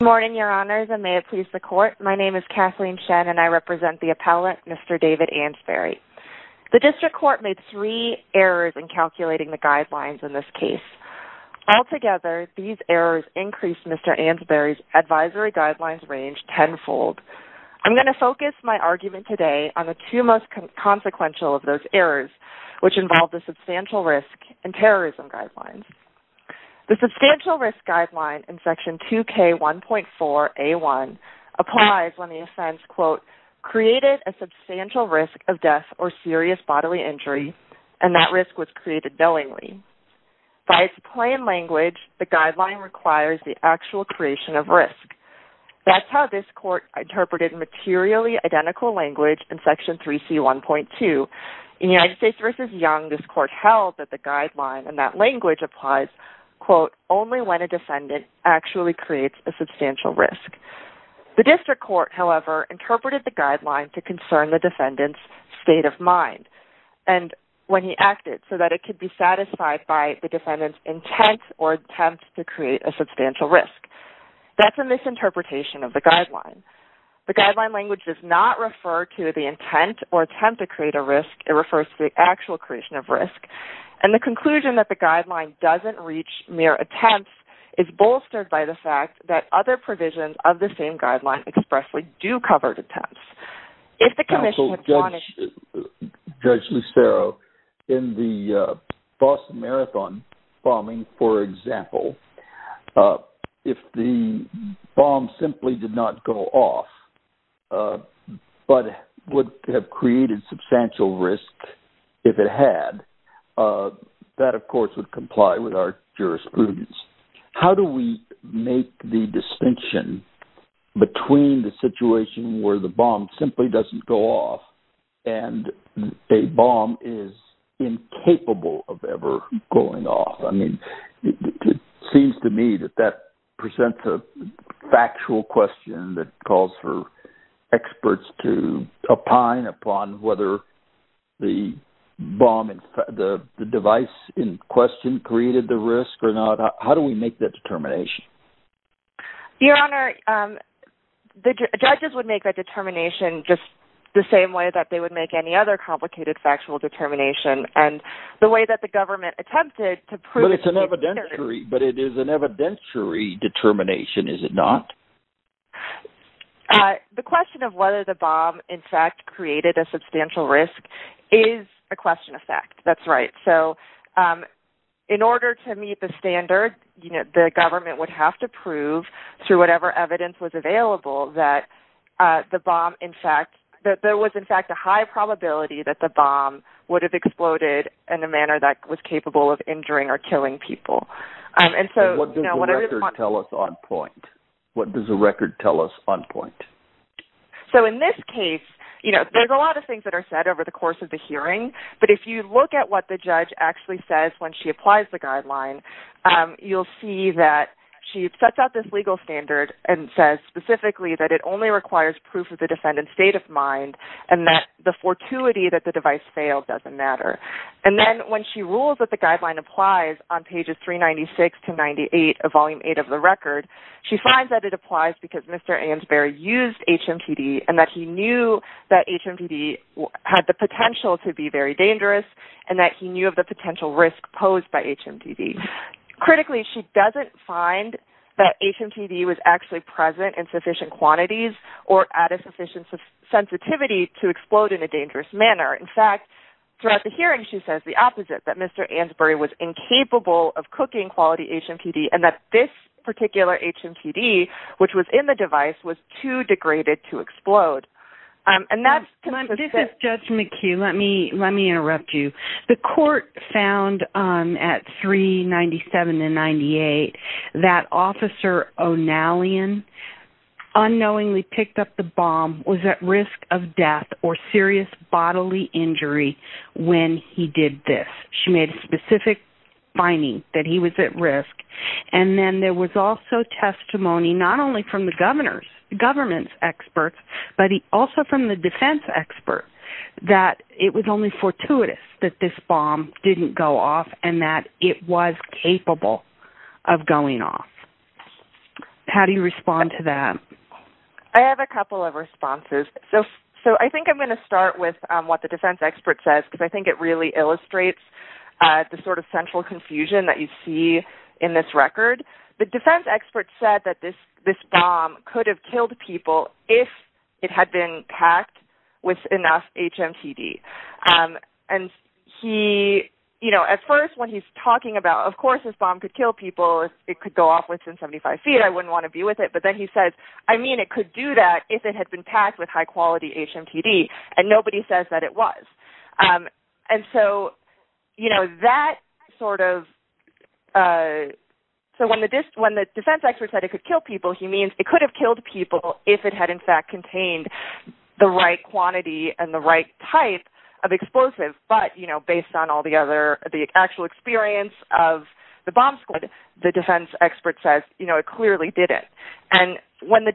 Good morning, your honors, and may it please the court. My name is Kathleen Shen and I represent the appellate, Mr. David Ansberry. The district court made three errors in calculating the guidelines in this case. Altogether, these errors increased Mr. Ansberry's advisory guidelines range tenfold. I'm going to focus my argument today on the two most consequential of those errors, which involve the substantial risk and terrorism guidelines. The substantial risk guideline in section 2K1.4a1 applies when the offense, quote, created a substantial risk of death or serious bodily injury and that risk was created willingly. By its plain language, the guideline requires the actual creation of risk. That's how this court interpreted materially identical language in section 3C1.2. In United States v. Young, this court held that the guideline and that language applies, quote, only when a defendant actually creates a substantial risk. The district court, however, interpreted the guideline to concern the defendant's state of mind and when he acted so that it could be satisfied by the defendant's intent or attempt to create a substantial risk. The guideline language does not refer to the intent or attempt to create a risk. It refers to the actual creation of risk, and the conclusion that the guideline doesn't reach mere attempts is bolstered by the fact that other provisions of the same guideline expressly do cover attempts. Judge Lucero, in the Boston Marathon bombing, for example, if the bomb simply did not go off but would have created substantial risk if it had, that, of course, would comply with our jurisprudence. How do we make the distinction between the situation where the bomb simply doesn't go off and a bomb is incapable of ever going off? I mean, it seems to me that that presents a factual question that calls for experts to opine upon whether the device in question created the risk or not. How do we make that determination? Your Honor, the judges would make that determination just the same way that they would make any other complicated factual determination, and the way that the government attempted to prove... But it is an evidentiary determination, is it not? The question of whether the bomb in fact created a substantial risk is a question of fact. That's right. So in order to meet the standard, the government would have to prove through whatever evidence was available that there was in fact a high probability that the bomb would have exploded in a manner that was capable of injuring or killing people. What does the record tell us on point? So in this case, there's a lot of things that are said over the course of the hearing, but if you look at what the judge actually says when she applies the guideline, you'll see that she sets out this legal standard and says specifically that it only requires proof of the defendant's state of mind and that the fortuity that the device failed doesn't matter. And then when she rules that the guideline applies on pages 396 to 98 of Volume 8 of the record, she finds that it applies because Mr. Ansboury used HMTD and that he knew that HMTD had the potential to be very dangerous and that he knew of the potential risk posed by HMTD. Critically, she doesn't find that HMTD was actually present in sufficient quantities or at a sufficient sensitivity to explode in a dangerous manner. In fact, throughout the hearing, she says the opposite, that Mr. Ansboury was incapable of cooking quality HMTD and that this particular HMTD, which was in the device, was too degraded to explode. This is Judge McHugh. Let me interrupt you. The court found at 397 and 98 that Officer O'Nallion unknowingly picked up the bomb, was at risk of death or serious bodily injury when he did this. She made a specific finding that he was at risk. And then there was also testimony not only from the government's experts, but also from the defense expert that it was only fortuitous that this bomb didn't go off and that it was capable of going off. How do you respond to that? I have a couple of responses. So I think I'm going to start with what the defense expert says because I think it really illustrates the sort of central confusion that you see in this record. The defense expert said that this bomb could have killed people if it had been packed with enough HMTD. And he, you know, at first when he's talking about, of course this bomb could kill people, it could go off within 75 feet, I wouldn't want to be with it. But then he says, I mean, it could do that if it had been packed with high quality HMTD. And nobody says that it was. And so, you know, that sort of, so when the defense expert said it could kill people, he means it could have killed people if it had in fact contained the right quantity and the right type of explosive. But, you know, based on all the other, the actual experience of the bomb squad, the defense expert says, you know, it clearly didn't. And when the,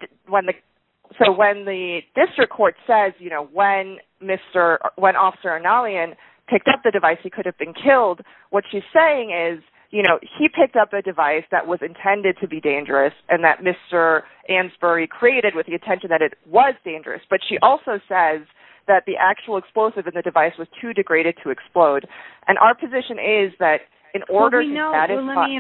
so when the district court says, you know, when Mr., when Officer Inalian picked up the device he could have been killed, what she's saying is, you know, he picked up a device that was intended to be dangerous and that Mr. Ansboury created with the intention that it was dangerous. But she also says that the actual explosive in the device was too degraded to explode. And our position is that in order to satisfy... It was too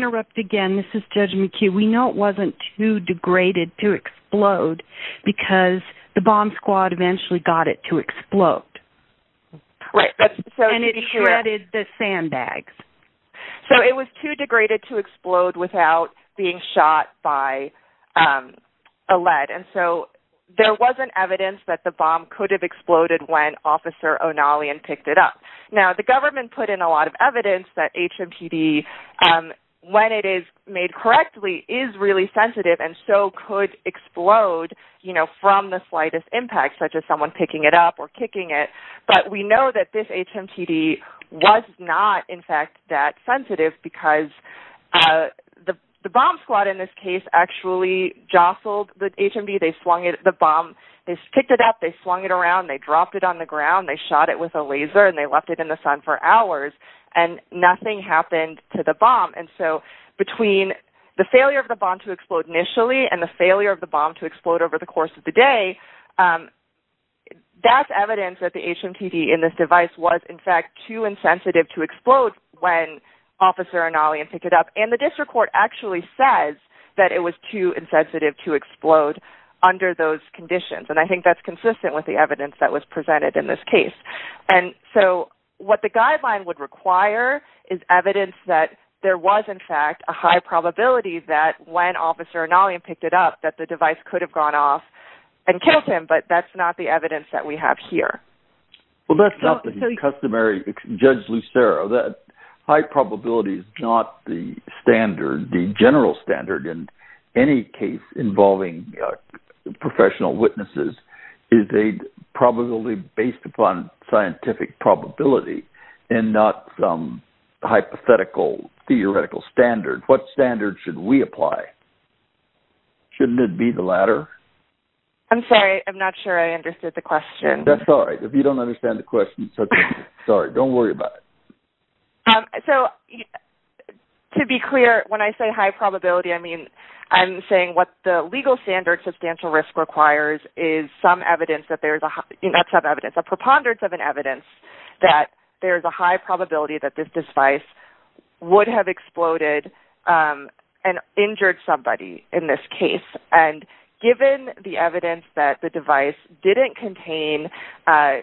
degraded to explode because the bomb squad eventually got it to explode. Right. And it shredded the sandbags. So it was too degraded to explode without being shot by a lead. And so there wasn't evidence that the bomb could have exploded when Officer Inalian picked it up. Now, the government put in a lot of evidence that HMTD, when it is made correctly, is really sensitive and so could explode, you know, from the slightest impact, such as someone picking it up or kicking it. But we know that this HMTD was not, in fact, that sensitive because the bomb squad, in this case, actually jostled the HMTD. They swung it. The bomb, they picked it up. They swung it around. They dropped it on the ground. They shot it with a laser and they left it in the sun for hours. And nothing happened to the bomb. And so between the failure of the bomb to explode initially and the failure of the bomb to explode over the course of the day, that's evidence that the HMTD in this device was, in fact, too insensitive to explode when Officer Inalian picked it up. And the district court actually says that it was too insensitive to explode under those conditions. And I think that's consistent with the evidence that was presented in this case. And so what the guideline would require is evidence that there was, in fact, a high probability that when Officer Inalian picked it up that the device could have gone off and killed him, but that's not the evidence that we have here. Well, that's not the customary, Judge Lucero. High probability is not the standard. The general standard in any case involving professional witnesses is a probability based upon scientific probability and not some hypothetical theoretical standard. What standard should we apply? Shouldn't it be the latter? I'm sorry. I'm not sure I understood the question. That's all right. If you don't understand the question, it's okay. Sorry. Don't worry about it. So to be clear, when I say high probability, I mean I'm saying what the legal standard, substantial risk requires is some evidence that there's a high, not some evidence, a preponderance of an evidence that there's a high probability that this device would have exploded and injured somebody in this case. And given the evidence that the device didn't contain a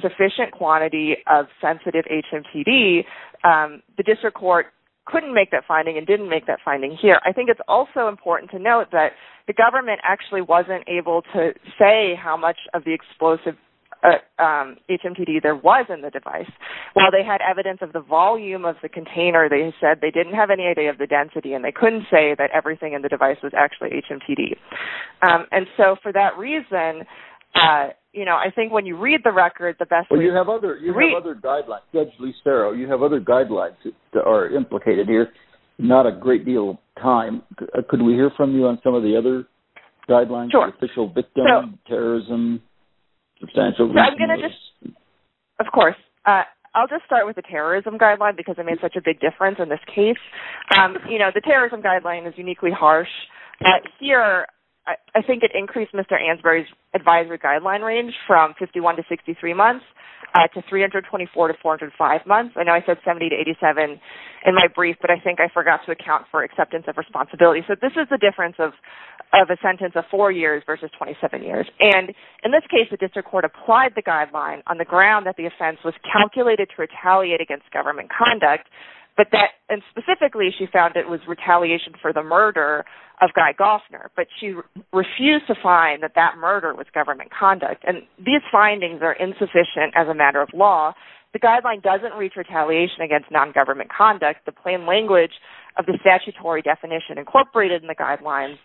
sufficient quantity of sensitive HMTD, the district court couldn't make that finding and didn't make that finding here. I think it's also important to note that the government actually wasn't able to say how much of the explosive HMTD there was in the device. While they had evidence of the volume of the container, they said they didn't have any idea of the density and they couldn't say that everything in the device was actually HMTD. And so for that reason, you know, I think when you read the record, the best way to read it. Well, you have other guidelines. Judge Listero, you have other guidelines that are implicated here. Not a great deal of time. Could we hear from you on some of the other guidelines? Sure. The official victim, terrorism, substantial risk. Of course. I'll just start with the terrorism guideline because it made such a big difference in this case. You know, the terrorism guideline is uniquely harsh. Here, I think it increased Mr. Ansboury's advisory guideline range from 51 to 63 months to 324 to 405 months. I know I said 70 to 87 in my brief, but I think I forgot to account for acceptance of responsibility. So this is the difference of a sentence of four years versus 27 years. And in this case, the district court applied the guideline on the ground that the offense was calculated to retaliate against government conduct, and specifically she found it was retaliation for the murder of Guy Goffner. But she refused to find that that murder was government conduct. And these findings are insufficient as a matter of law. The guideline doesn't reach retaliation against non-government conduct. The plain language of the statutory definition incorporated in the guidelines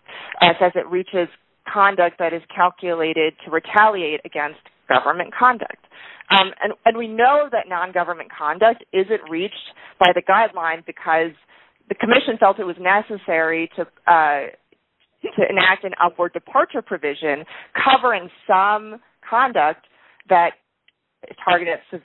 says it reaches conduct that is calculated to retaliate against government conduct. And we know that non-government conduct isn't reached by the guidelines because the commission felt it was necessary to enact an upward departure provision covering some conduct that targeted at the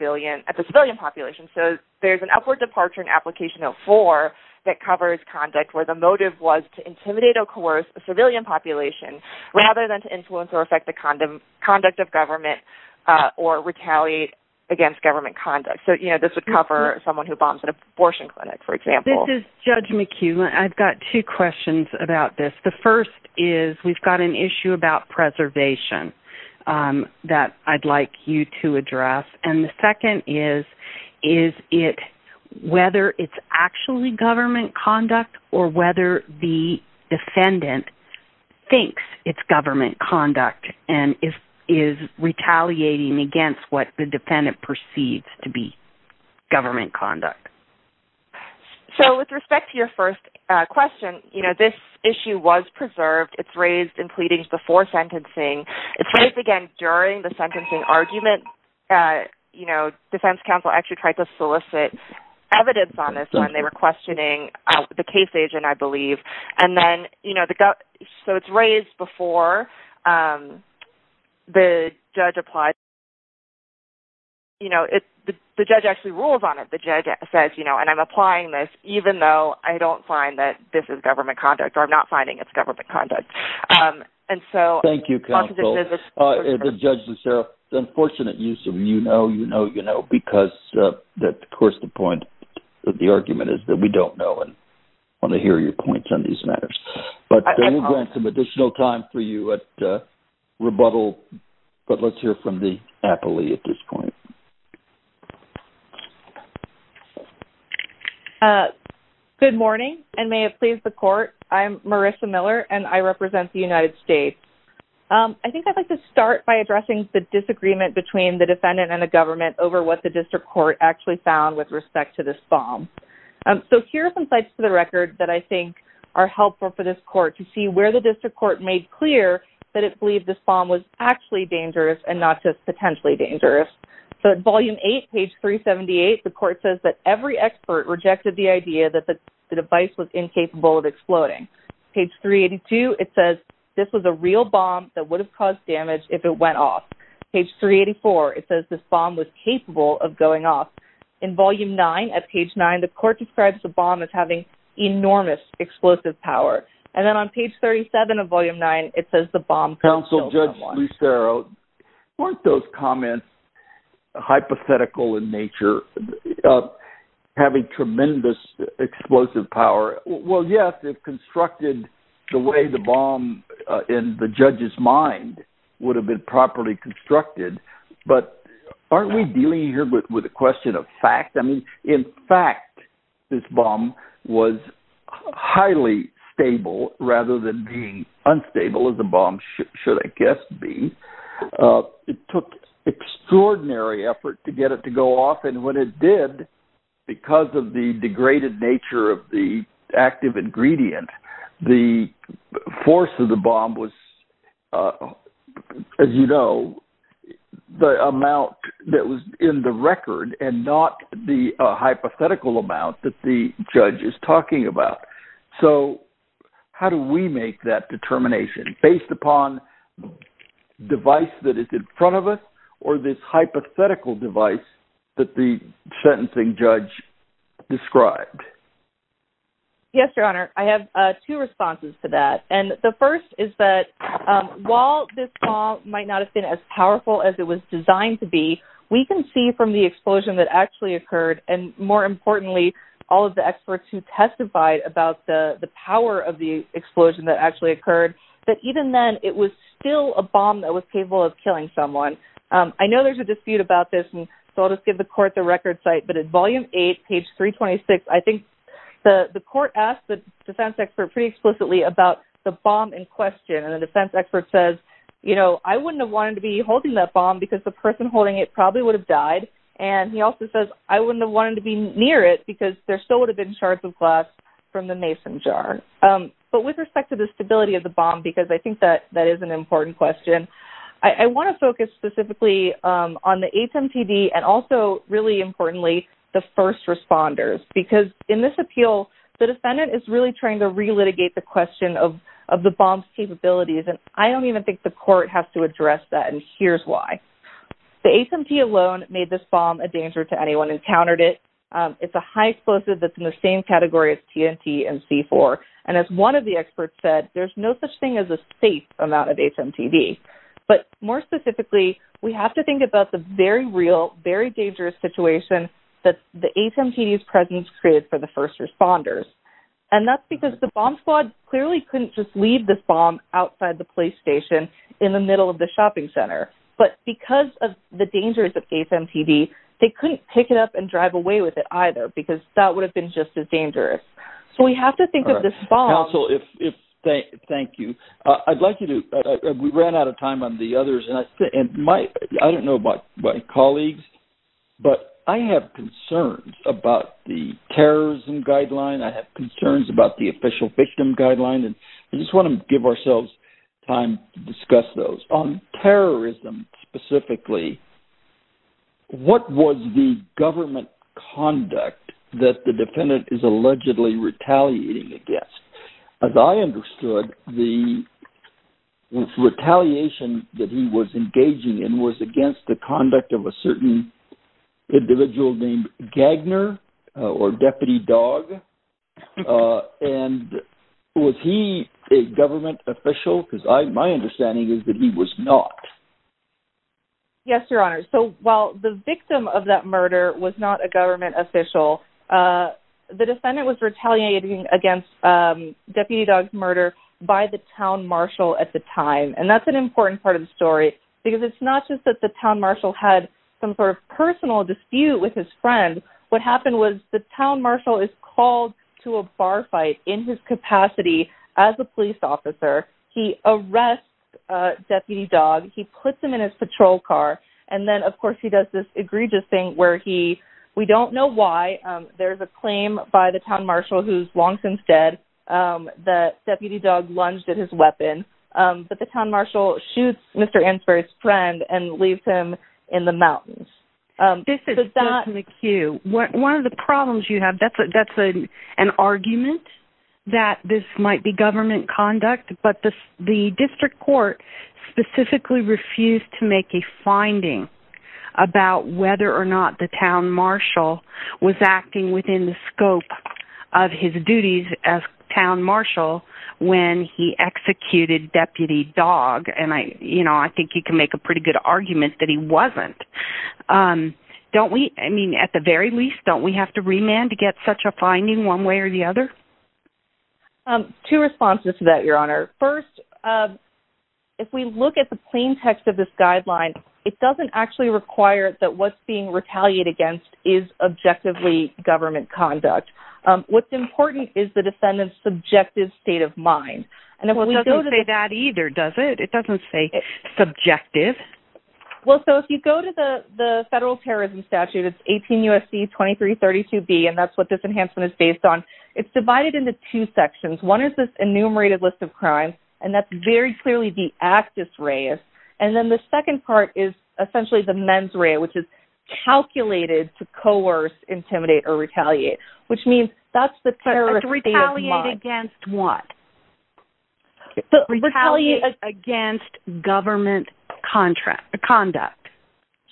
civilian population. So there's an upward departure in application 04 that covers conduct where the motive was to intimidate or coerce a civilian population rather than to influence or affect the conduct of government or retaliate against government conduct. So, you know, this would cover someone who bombs an abortion clinic, for example. This is Judge McHugh. I've got two questions about this. The first is we've got an issue about preservation that I'd like you to address. And the second is whether it's actually government conduct or whether the defendant thinks it's government conduct and is retaliating against what the defendant perceives to be government conduct. So with respect to your first question, you know, this issue was preserved. It's raised in pleadings before sentencing. It's raised again during the sentencing argument. You know, defense counsel actually tried to solicit evidence on this when they were questioning the case agent, I believe. And then, you know, so it's raised before the judge applied. You know, the judge actually rules on it. The judge says, you know, and I'm applying this even though I don't find that this is government conduct or I'm not finding it's government conduct. Thank you, counsel. Judge Lucero, unfortunate use of you know, you know, you know, because, of course, the point of the argument is that we don't know and want to hear your points on these matters. But we'll grant some additional time for you at rebuttal. But let's hear from the appellee at this point. I'm Marisha Miller, and I represent the United States. I think I'd like to start by addressing the disagreement between the defendant and the government over what the district court actually found with respect to this bomb. So here are some sites for the record that I think are helpful for this court to see where the district court made clear that it believed this bomb was actually dangerous and not just potentially dangerous. So at volume 8, page 378, the court says that every expert rejected the idea that the device was incapable of exploding. Page 382, it says this was a real bomb that would have caused damage if it went off. Page 384, it says this bomb was capable of going off. In volume 9, at page 9, the court describes the bomb as having enormous explosive power. And then on page 37 of volume 9, it says the bomb killed someone. Counsel Judge Lucero, weren't those comments hypothetical in nature, having tremendous explosive power? Well, yes, if constructed the way the bomb in the judge's mind would have been properly constructed. But aren't we dealing here with a question of fact? I mean, in fact, this bomb was highly stable rather than being unstable as a bomb should, I guess, be. It took extraordinary effort to get it to go off. And when it did, because of the degraded nature of the active ingredient, the force of the bomb was, as you know, the amount that was in the record and not the hypothetical amount that the judge is talking about. So how do we make that determination based upon device that is in front of us or this hypothetical device that the sentencing judge described? Yes, Your Honor, I have two responses to that. And the first is that while this bomb might not have been as powerful as it was designed to be, we can see from the explosion that actually occurred, and more importantly, all of the experts who testified about the power of the explosion that actually occurred, that even then it was still a bomb that was capable of killing someone. I know there's a dispute about this, and so I'll just give the court the record site. But at Volume 8, page 326, I think the court asked the defense expert pretty explicitly about the bomb in question. And the defense expert says, you know, I wouldn't have wanted to be holding that bomb because the person holding it probably would have died. And he also says, I wouldn't have wanted to be near it because there still would have been shards of glass from the mason jar. But with respect to the stability of the bomb, because I think that that is an important question, I want to focus specifically on the HMTD and also, really importantly, the first responders. Because in this appeal, the defendant is really trying to relitigate the question of the bomb's capabilities, and I don't even think the court has to address that, and here's why. The HMTD alone made this bomb a danger to anyone who encountered it. It's a high explosive that's in the same category as TNT and C4. And as one of the experts said, there's no such thing as a safe amount of HMTD. But more specifically, we have to think about the very real, very dangerous situation that the HMTD's presence created for the first responders. And that's because the bomb squad clearly couldn't just leave this bomb outside the police station in the middle of the shopping center. But because of the dangers of HMTD, they couldn't pick it up and drive away with it either because that would have been just as dangerous. So we have to think of this bomb. Counsel, thank you. We ran out of time on the others, and I don't know about my colleagues, but I have concerns about the terrorism guideline. I have concerns about the official victim guideline, and I just want to give ourselves time to discuss those. On terrorism specifically, what was the government conduct that the defendant is allegedly retaliating against? As I understood, the retaliation that he was engaging in was against the conduct of a certain individual named Gagner or Deputy Dog. And was he a government official? Because my understanding is that he was not. Yes, Your Honor. So while the victim of that murder was not a government official, the defendant was retaliating against Deputy Dog's murder by the town marshal at the time. And that's an important part of the story because it's not just that the town marshal had some sort of personal dispute with his friend. What happened was the town marshal is called to a bar fight in his capacity as a police officer. He arrests Deputy Dog. He puts him in his patrol car. And then, of course, he does this egregious thing where he – we don't know why. There's a claim by the town marshal who's long since dead that Deputy Dog lunged at his weapon. But the town marshal shoots Mr. Ansboury's friend and leaves him in the mountains. This is still in the queue. One of the problems you have, that's an argument that this might be government conduct. But the district court specifically refused to make a finding about whether or not the town marshal was acting within the scope of his duties as town marshal when he executed Deputy Dog. And, you know, I think you can make a pretty good argument that he wasn't. Don't we – I mean, at the very least, don't we have to remand to get such a finding one way or the other? Two responses to that, Your Honor. First, if we look at the plain text of this guideline, it doesn't actually require that what's being retaliated against is objectively government conduct. What's important is the defendant's subjective state of mind. Well, it doesn't say that either, does it? It doesn't say subjective. Well, so if you go to the federal terrorism statute, it's 18 U.S.C. 2332B, and that's what this enhancement is based on. It's divided into two sections. One is this enumerated list of crimes, and that's very clearly the actus reus. And then the second part is essentially the mens rea, which is calculated to coerce, intimidate, or retaliate, which means that's the terrorist's state of mind. Retaliate against government conduct.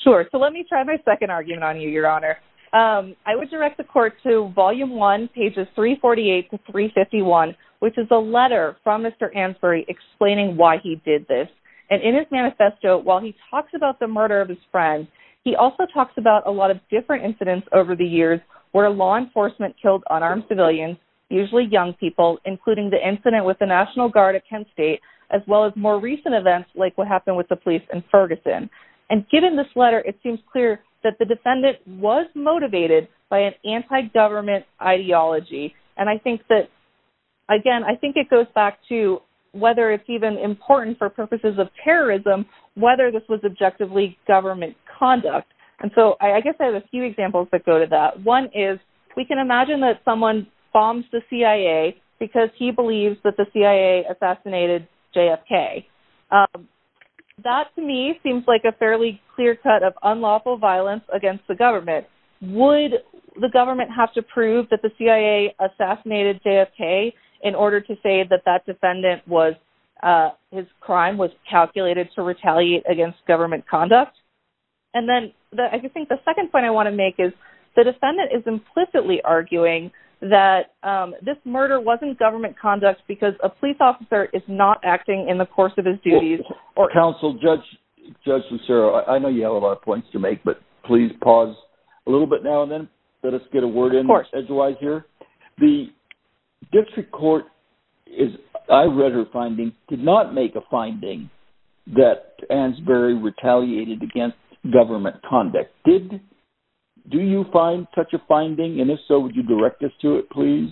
Sure. So let me try my second argument on you, Your Honor. I would direct the court to volume one, pages 348 to 351, which is a letter from Mr. Ansboury explaining why he did this. And in his manifesto, while he talks about the murder of his friends, he also talks about a lot of different incidents over the years where law enforcement killed unarmed civilians, usually young people, including the incident with the National Guard at Kent State, as well as more recent events like what happened with the police in Ferguson. And given this letter, it seems clear that the defendant was motivated by an anti-government ideology. And I think that, again, I think it goes back to whether it's even important for purposes of terrorism, whether this was objectively government conduct. And so I guess I have a few examples that go to that. One is we can imagine that someone bombs the CIA because he believes that the CIA assassinated JFK. That, to me, seems like a fairly clear cut of unlawful violence against the government. Would the government have to prove that the CIA assassinated JFK in order to say that that defendant was, his crime was calculated to retaliate against government conduct? And then I think the second point I want to make is the defendant is implicitly arguing that this murder wasn't government conduct because a police officer is not acting in the course of his duties. Counsel, Judge Lucero, I know you have a lot of points to make, but please pause a little bit now and then. Let us get a word in edgewise here. The district court, I read her finding, did not make a finding that Ansboury retaliated against government conduct. Do you find such a finding? And if so, would you direct us to it, please?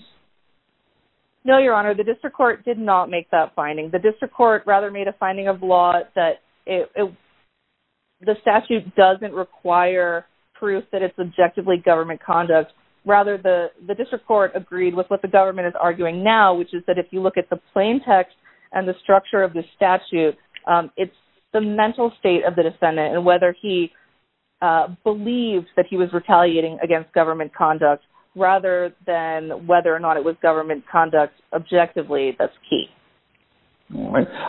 No, Your Honor, the district court did not make that finding. The district court rather made a finding of law that the statute doesn't require proof that it's objectively government conduct. Rather, the district court agreed with what the government is arguing now, which is that if you look at the plain text and the structure of the statute, it's the mental state of the defendant. And whether he believes that he was retaliating against government conduct rather than whether or not it was government conduct objectively, that's key.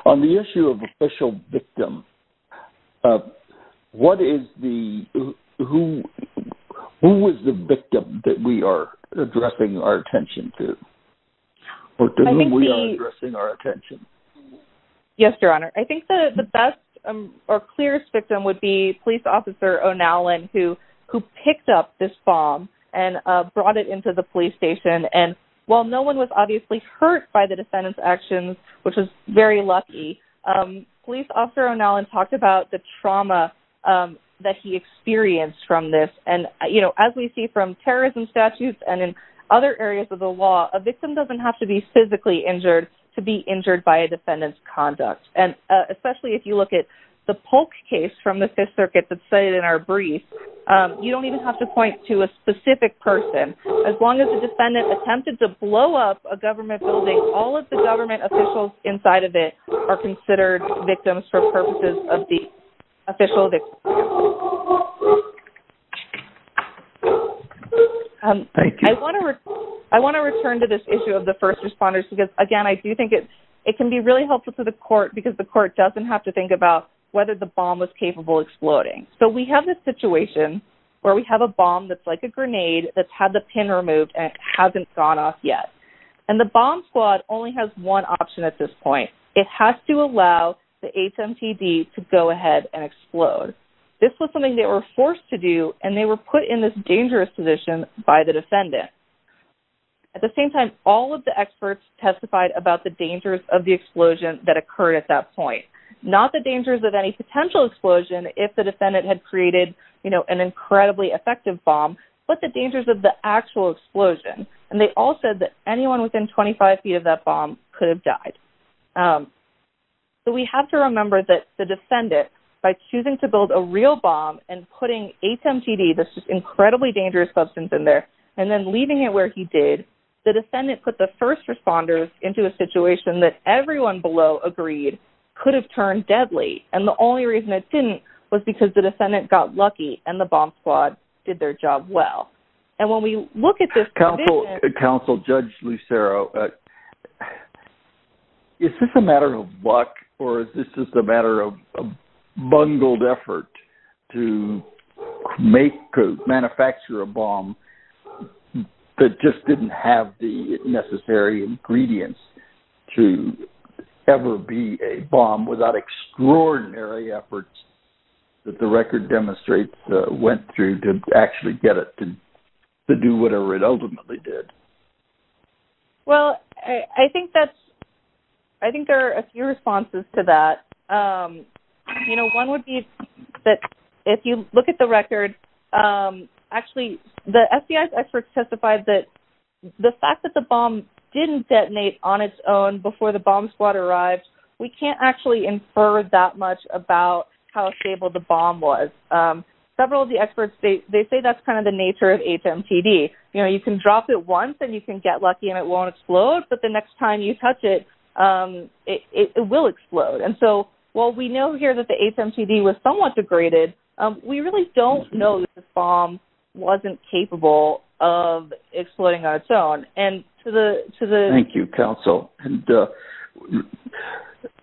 On the issue of official victim, who is the victim that we are addressing our attention to? Yes, Your Honor. I think the best or clearest victim would be police officer O'Nallen, who picked up this bomb and brought it into the police station. And while no one was obviously hurt by the defendant's actions, which was very lucky, police officer O'Nallen talked about the trauma that he experienced from this. And as we see from terrorism statutes and in other areas of the law, a victim doesn't have to be physically injured to be injured by a defendant's conduct. And especially if you look at the Polk case from the Fifth Circuit that's cited in our brief, you don't even have to point to a specific person. As long as the defendant attempted to blow up a government building, all of the government officials inside of it are considered victims for purposes of the official victim. I want to return to this issue of the first responders because, again, I do think it can be really helpful to the court because the court doesn't have to think about whether the bomb was capable of exploding. So we have this situation where we have a bomb that's like a grenade that's had the pin removed and it hasn't gone off yet. And the bomb squad only has one option at this point. It has to allow the HMTD to go ahead and explode. This was something they were forced to do and they were put in this dangerous position by the defendant. At the same time, all of the experts testified about the dangers of the explosion that occurred at that point. Not the dangers of any potential explosion if the defendant had created an incredibly effective bomb, but the dangers of the actual explosion. And they all said that anyone within 25 feet of that bomb could have died. So we have to remember that the defendant, by choosing to build a real bomb and putting HMTD, this incredibly dangerous substance in there, and then leaving it where he did, the defendant put the first responders into a situation that everyone below agreed could have turned deadly. And the only reason it didn't was because the defendant got lucky and the bomb squad did their job well. Counsel Judge Lucero, is this a matter of luck or is this just a matter of a bungled effort to manufacture a bomb that just didn't have the necessary ingredients to ever be a bomb without extraordinary efforts that the record demonstrates went through to actually get it to do whatever it ultimately did? Well, I think there are a few responses to that. One would be that if you look at the record, actually the FBI's experts testified that the fact that the bomb didn't detonate on its own before the bomb squad arrived, we can't actually infer that much about how stable the bomb was. Several of the experts, they say that's kind of the nature of HMTD. You know, you can drop it once and you can get lucky and it won't explode, but the next time you touch it, it will explode. And so while we know here that the HMTD was somewhat degraded, we really don't know that the bomb wasn't capable of exploding on its own. Thank you, Counsel.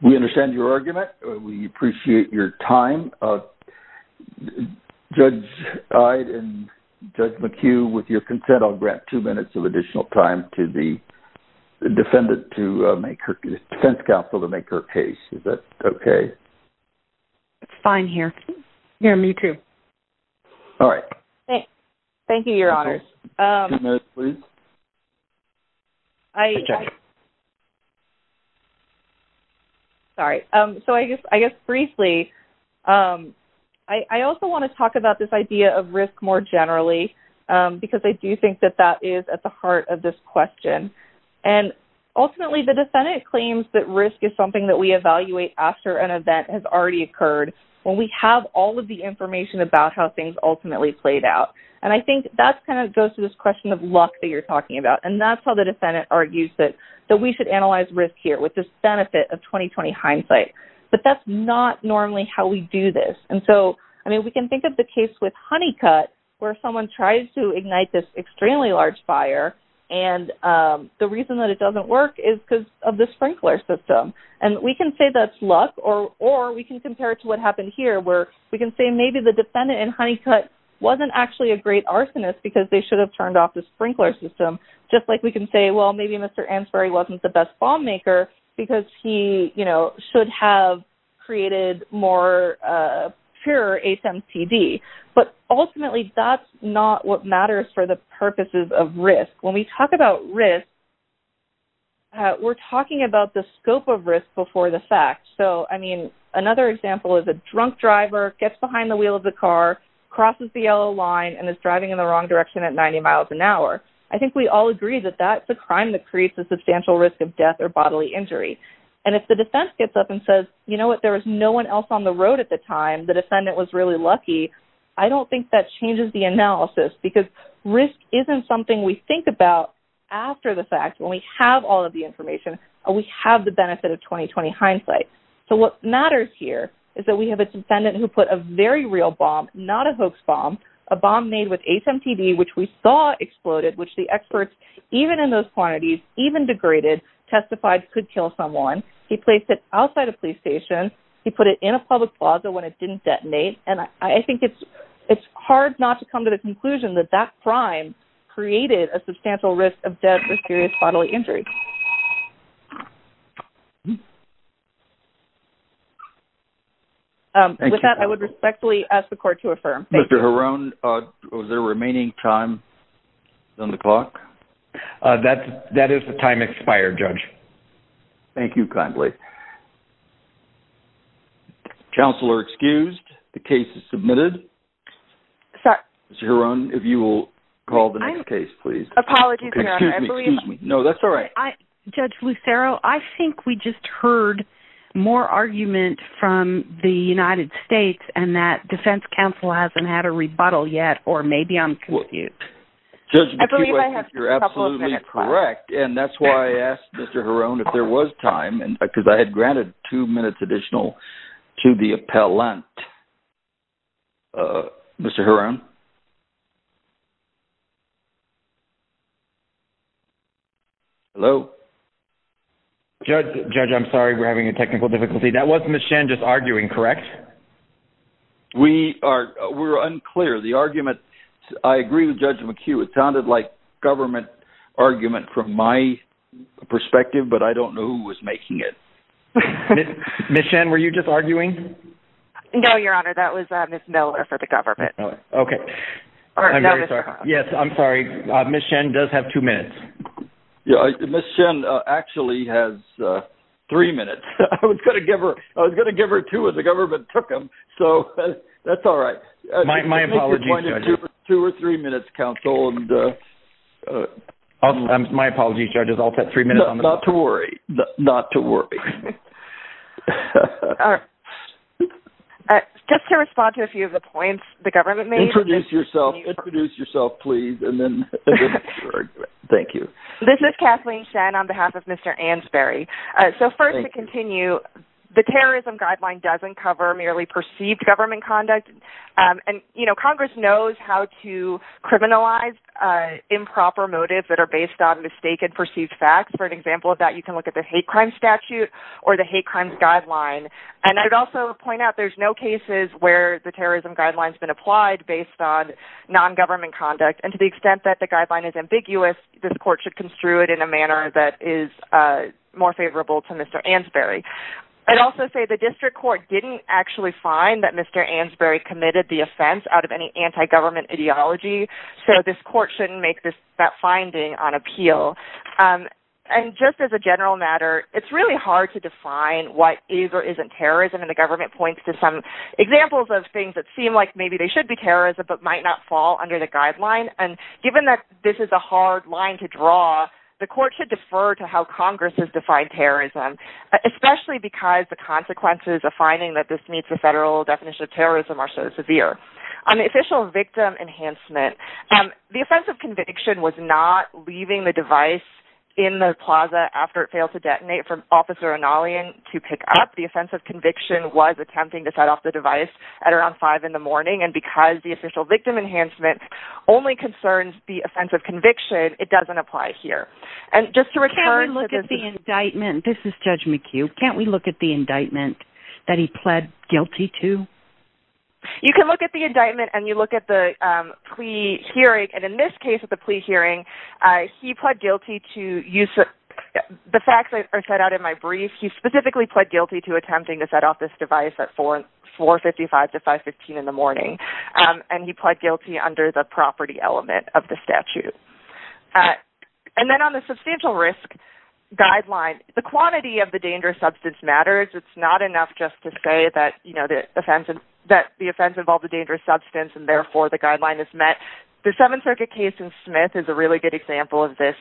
We understand your argument. We appreciate your time. Judge Ide and Judge McHugh, with your consent, I'll grant two minutes of additional time to the defense counsel to make her case. Is that okay? It's fine here. Here, me too. All right. Thank you, Your Honors. Two minutes, please. Hi, Judge. Sorry. So I guess briefly, I also want to talk about this idea of risk more generally because I do think that that is at the heart of this question. And ultimately, the defendant claims that risk is something that we evaluate after an event has already occurred when we have all of the information about how things ultimately played out. And I think that kind of goes to this question of luck that you're talking about. And that's how the defendant argues that we should analyze risk here with this benefit of 20-20 hindsight. But that's not normally how we do this. And so, I mean, we can think of the case with Honeycutt where someone tries to ignite this extremely large fire and the reason that it doesn't work is because of the sprinkler system. And we can say that's luck or we can compare it to what happened here where we can say maybe the defendant in Honeycutt wasn't actually a great arsonist because they should have turned off the sprinkler system. Just like we can say, well, maybe Mr. Ansboury wasn't the best bomb maker because he, you know, should have created more pure ASEM CD. But ultimately, that's not what matters for the purposes of risk. When we talk about risk, we're talking about the scope of risk before the fact. So, I mean, another example is a drunk driver gets behind the wheel of the car, crosses the yellow line, and is driving in the wrong direction at 90 miles an hour. I think we all agree that that's a crime that creates a substantial risk of death or bodily injury. And if the defense gets up and says, you know what, there was no one else on the road at the time, the defendant was really lucky, I don't think that changes the analysis because risk isn't something we think about after the fact. When we have all of the information, we have the benefit of 20-20 hindsight. So what matters here is that we have a defendant who put a very real bomb, not a hoax bomb, a bomb made with ASEM CD, which we saw exploded, which the experts, even in those quantities, even degraded, testified could kill someone. He placed it outside a police station. He put it in a public plaza when it didn't detonate. And I think it's hard not to come to the conclusion that that crime created a substantial risk of death or serious bodily injury. With that, I would respectfully ask the court to affirm. Mr. Heron, is there remaining time on the clock? That is the time expired, Judge. Thank you kindly. Counselor excused. The case is submitted. Sorry. Mr. Heron, if you will call the next case, please. Apologies, Your Honor. Excuse me, excuse me. No, that's all right. Judge Lucero, I think we just heard more argument from the United States and that defense counsel hasn't had a rebuttal yet or maybe I'm confused. Judge McHugh, I think you're absolutely correct. And that's why I asked Mr. Heron if there was time because I had granted two minutes additional to the appellant. Mr. Heron? Mr. Heron? Hello? Judge, I'm sorry. We're having a technical difficulty. That was Ms. Shen just arguing, correct? We are unclear. The argument, I agree with Judge McHugh, it sounded like government argument from my perspective, but I don't know who was making it. Ms. Shen, were you just arguing? No, Your Honor. That was Ms. Miller for the government. Okay. I'm very sorry. Yes, I'm sorry. Ms. Shen does have two minutes. Ms. Shen actually has three minutes. I was going to give her two as the government took them, so that's all right. My apologies, Judge. Two or three minutes, counsel. My apologies, Judge. I'll put three minutes on the clock. Not to worry. Not to worry. All right. Just to respond to a few of the points the government made… Introduce yourself. Introduce yourself, please, and then you can argue it. Thank you. This is Kathleen Shen on behalf of Mr. Ansboury. So, first, to continue, the terrorism guideline doesn't cover merely perceived government conduct. And, you know, Congress knows how to criminalize improper motives that are based on mistaken perceived facts. For an example of that, you can look at the hate crime statute or the hate crime guideline. And I'd also point out there's no cases where the terrorism guideline's been applied based on non-government conduct. And to the extent that the guideline is ambiguous, this court should construe it in a manner that is more favorable to Mr. Ansboury. I'd also say the district court didn't actually find that Mr. Ansboury committed the offense out of any anti-government ideology. So this court shouldn't make that finding on appeal. And just as a general matter, it's really hard to define what is or isn't terrorism. And the government points to some examples of things that seem like maybe they should be terrorism but might not fall under the guideline. And given that this is a hard line to draw, the court should defer to how Congress has defined terrorism, especially because the consequences of finding that this meets the federal definition of terrorism are so severe. On the official victim enhancement, the offense of conviction was not leaving the device in the plaza after it failed to detonate for Officer O'Neillian to pick up. The offense of conviction was attempting to set off the device at around 5 in the morning. And because the official victim enhancement only concerns the offense of conviction, it doesn't apply here. And just to return to the... Can we look at the indictment? This is Judge McHugh. Can we look at the indictment that he pled guilty to? You can look at the indictment and you look at the plea hearing. And in this case at the plea hearing, he pled guilty to use... The facts are set out in my brief. He specifically pled guilty to attempting to set off this device at 4.55 to 5.15 in the morning. And he pled guilty under the property element of the statute. And then on the substantial risk guideline, the quantity of the dangerous substance matters. It's not enough just to say that the offense involved a dangerous substance and therefore the guideline is met. The Seventh Circuit case in Smith is a really good example of this.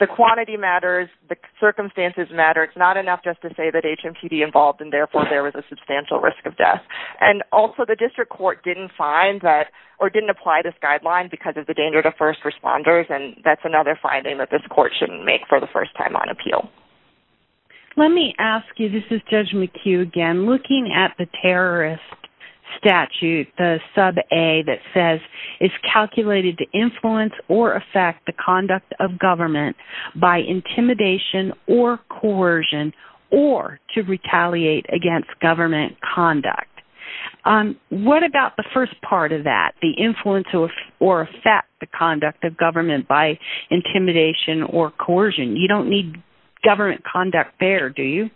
The quantity matters. The circumstances matter. It's not enough just to say that HMTD involved and therefore there was a substantial risk of death. And also the district court didn't find that or didn't apply this guideline because of the danger to first responders. And that's another finding that this court shouldn't make for the first time on appeal. Let me ask you, this is Judge McHugh again, looking at the terrorist statute, the sub-A that says, it's calculated to influence or affect the conduct of government by intimidation or coercion or to retaliate against government conduct. What about the first part of that, the influence or affect the conduct of government by intimidation or coercion? You don't need government conduct there, do you?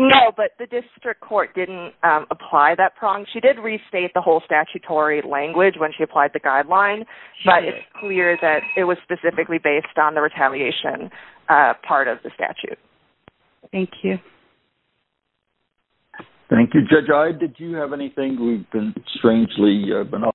No, but the district court didn't apply that prong. She did restate the whole statutory language when she applied the guideline, but it's clear that it was specifically based on the retaliation part of the statute. Thank you. Thank you. Judge Ide, did you have anything?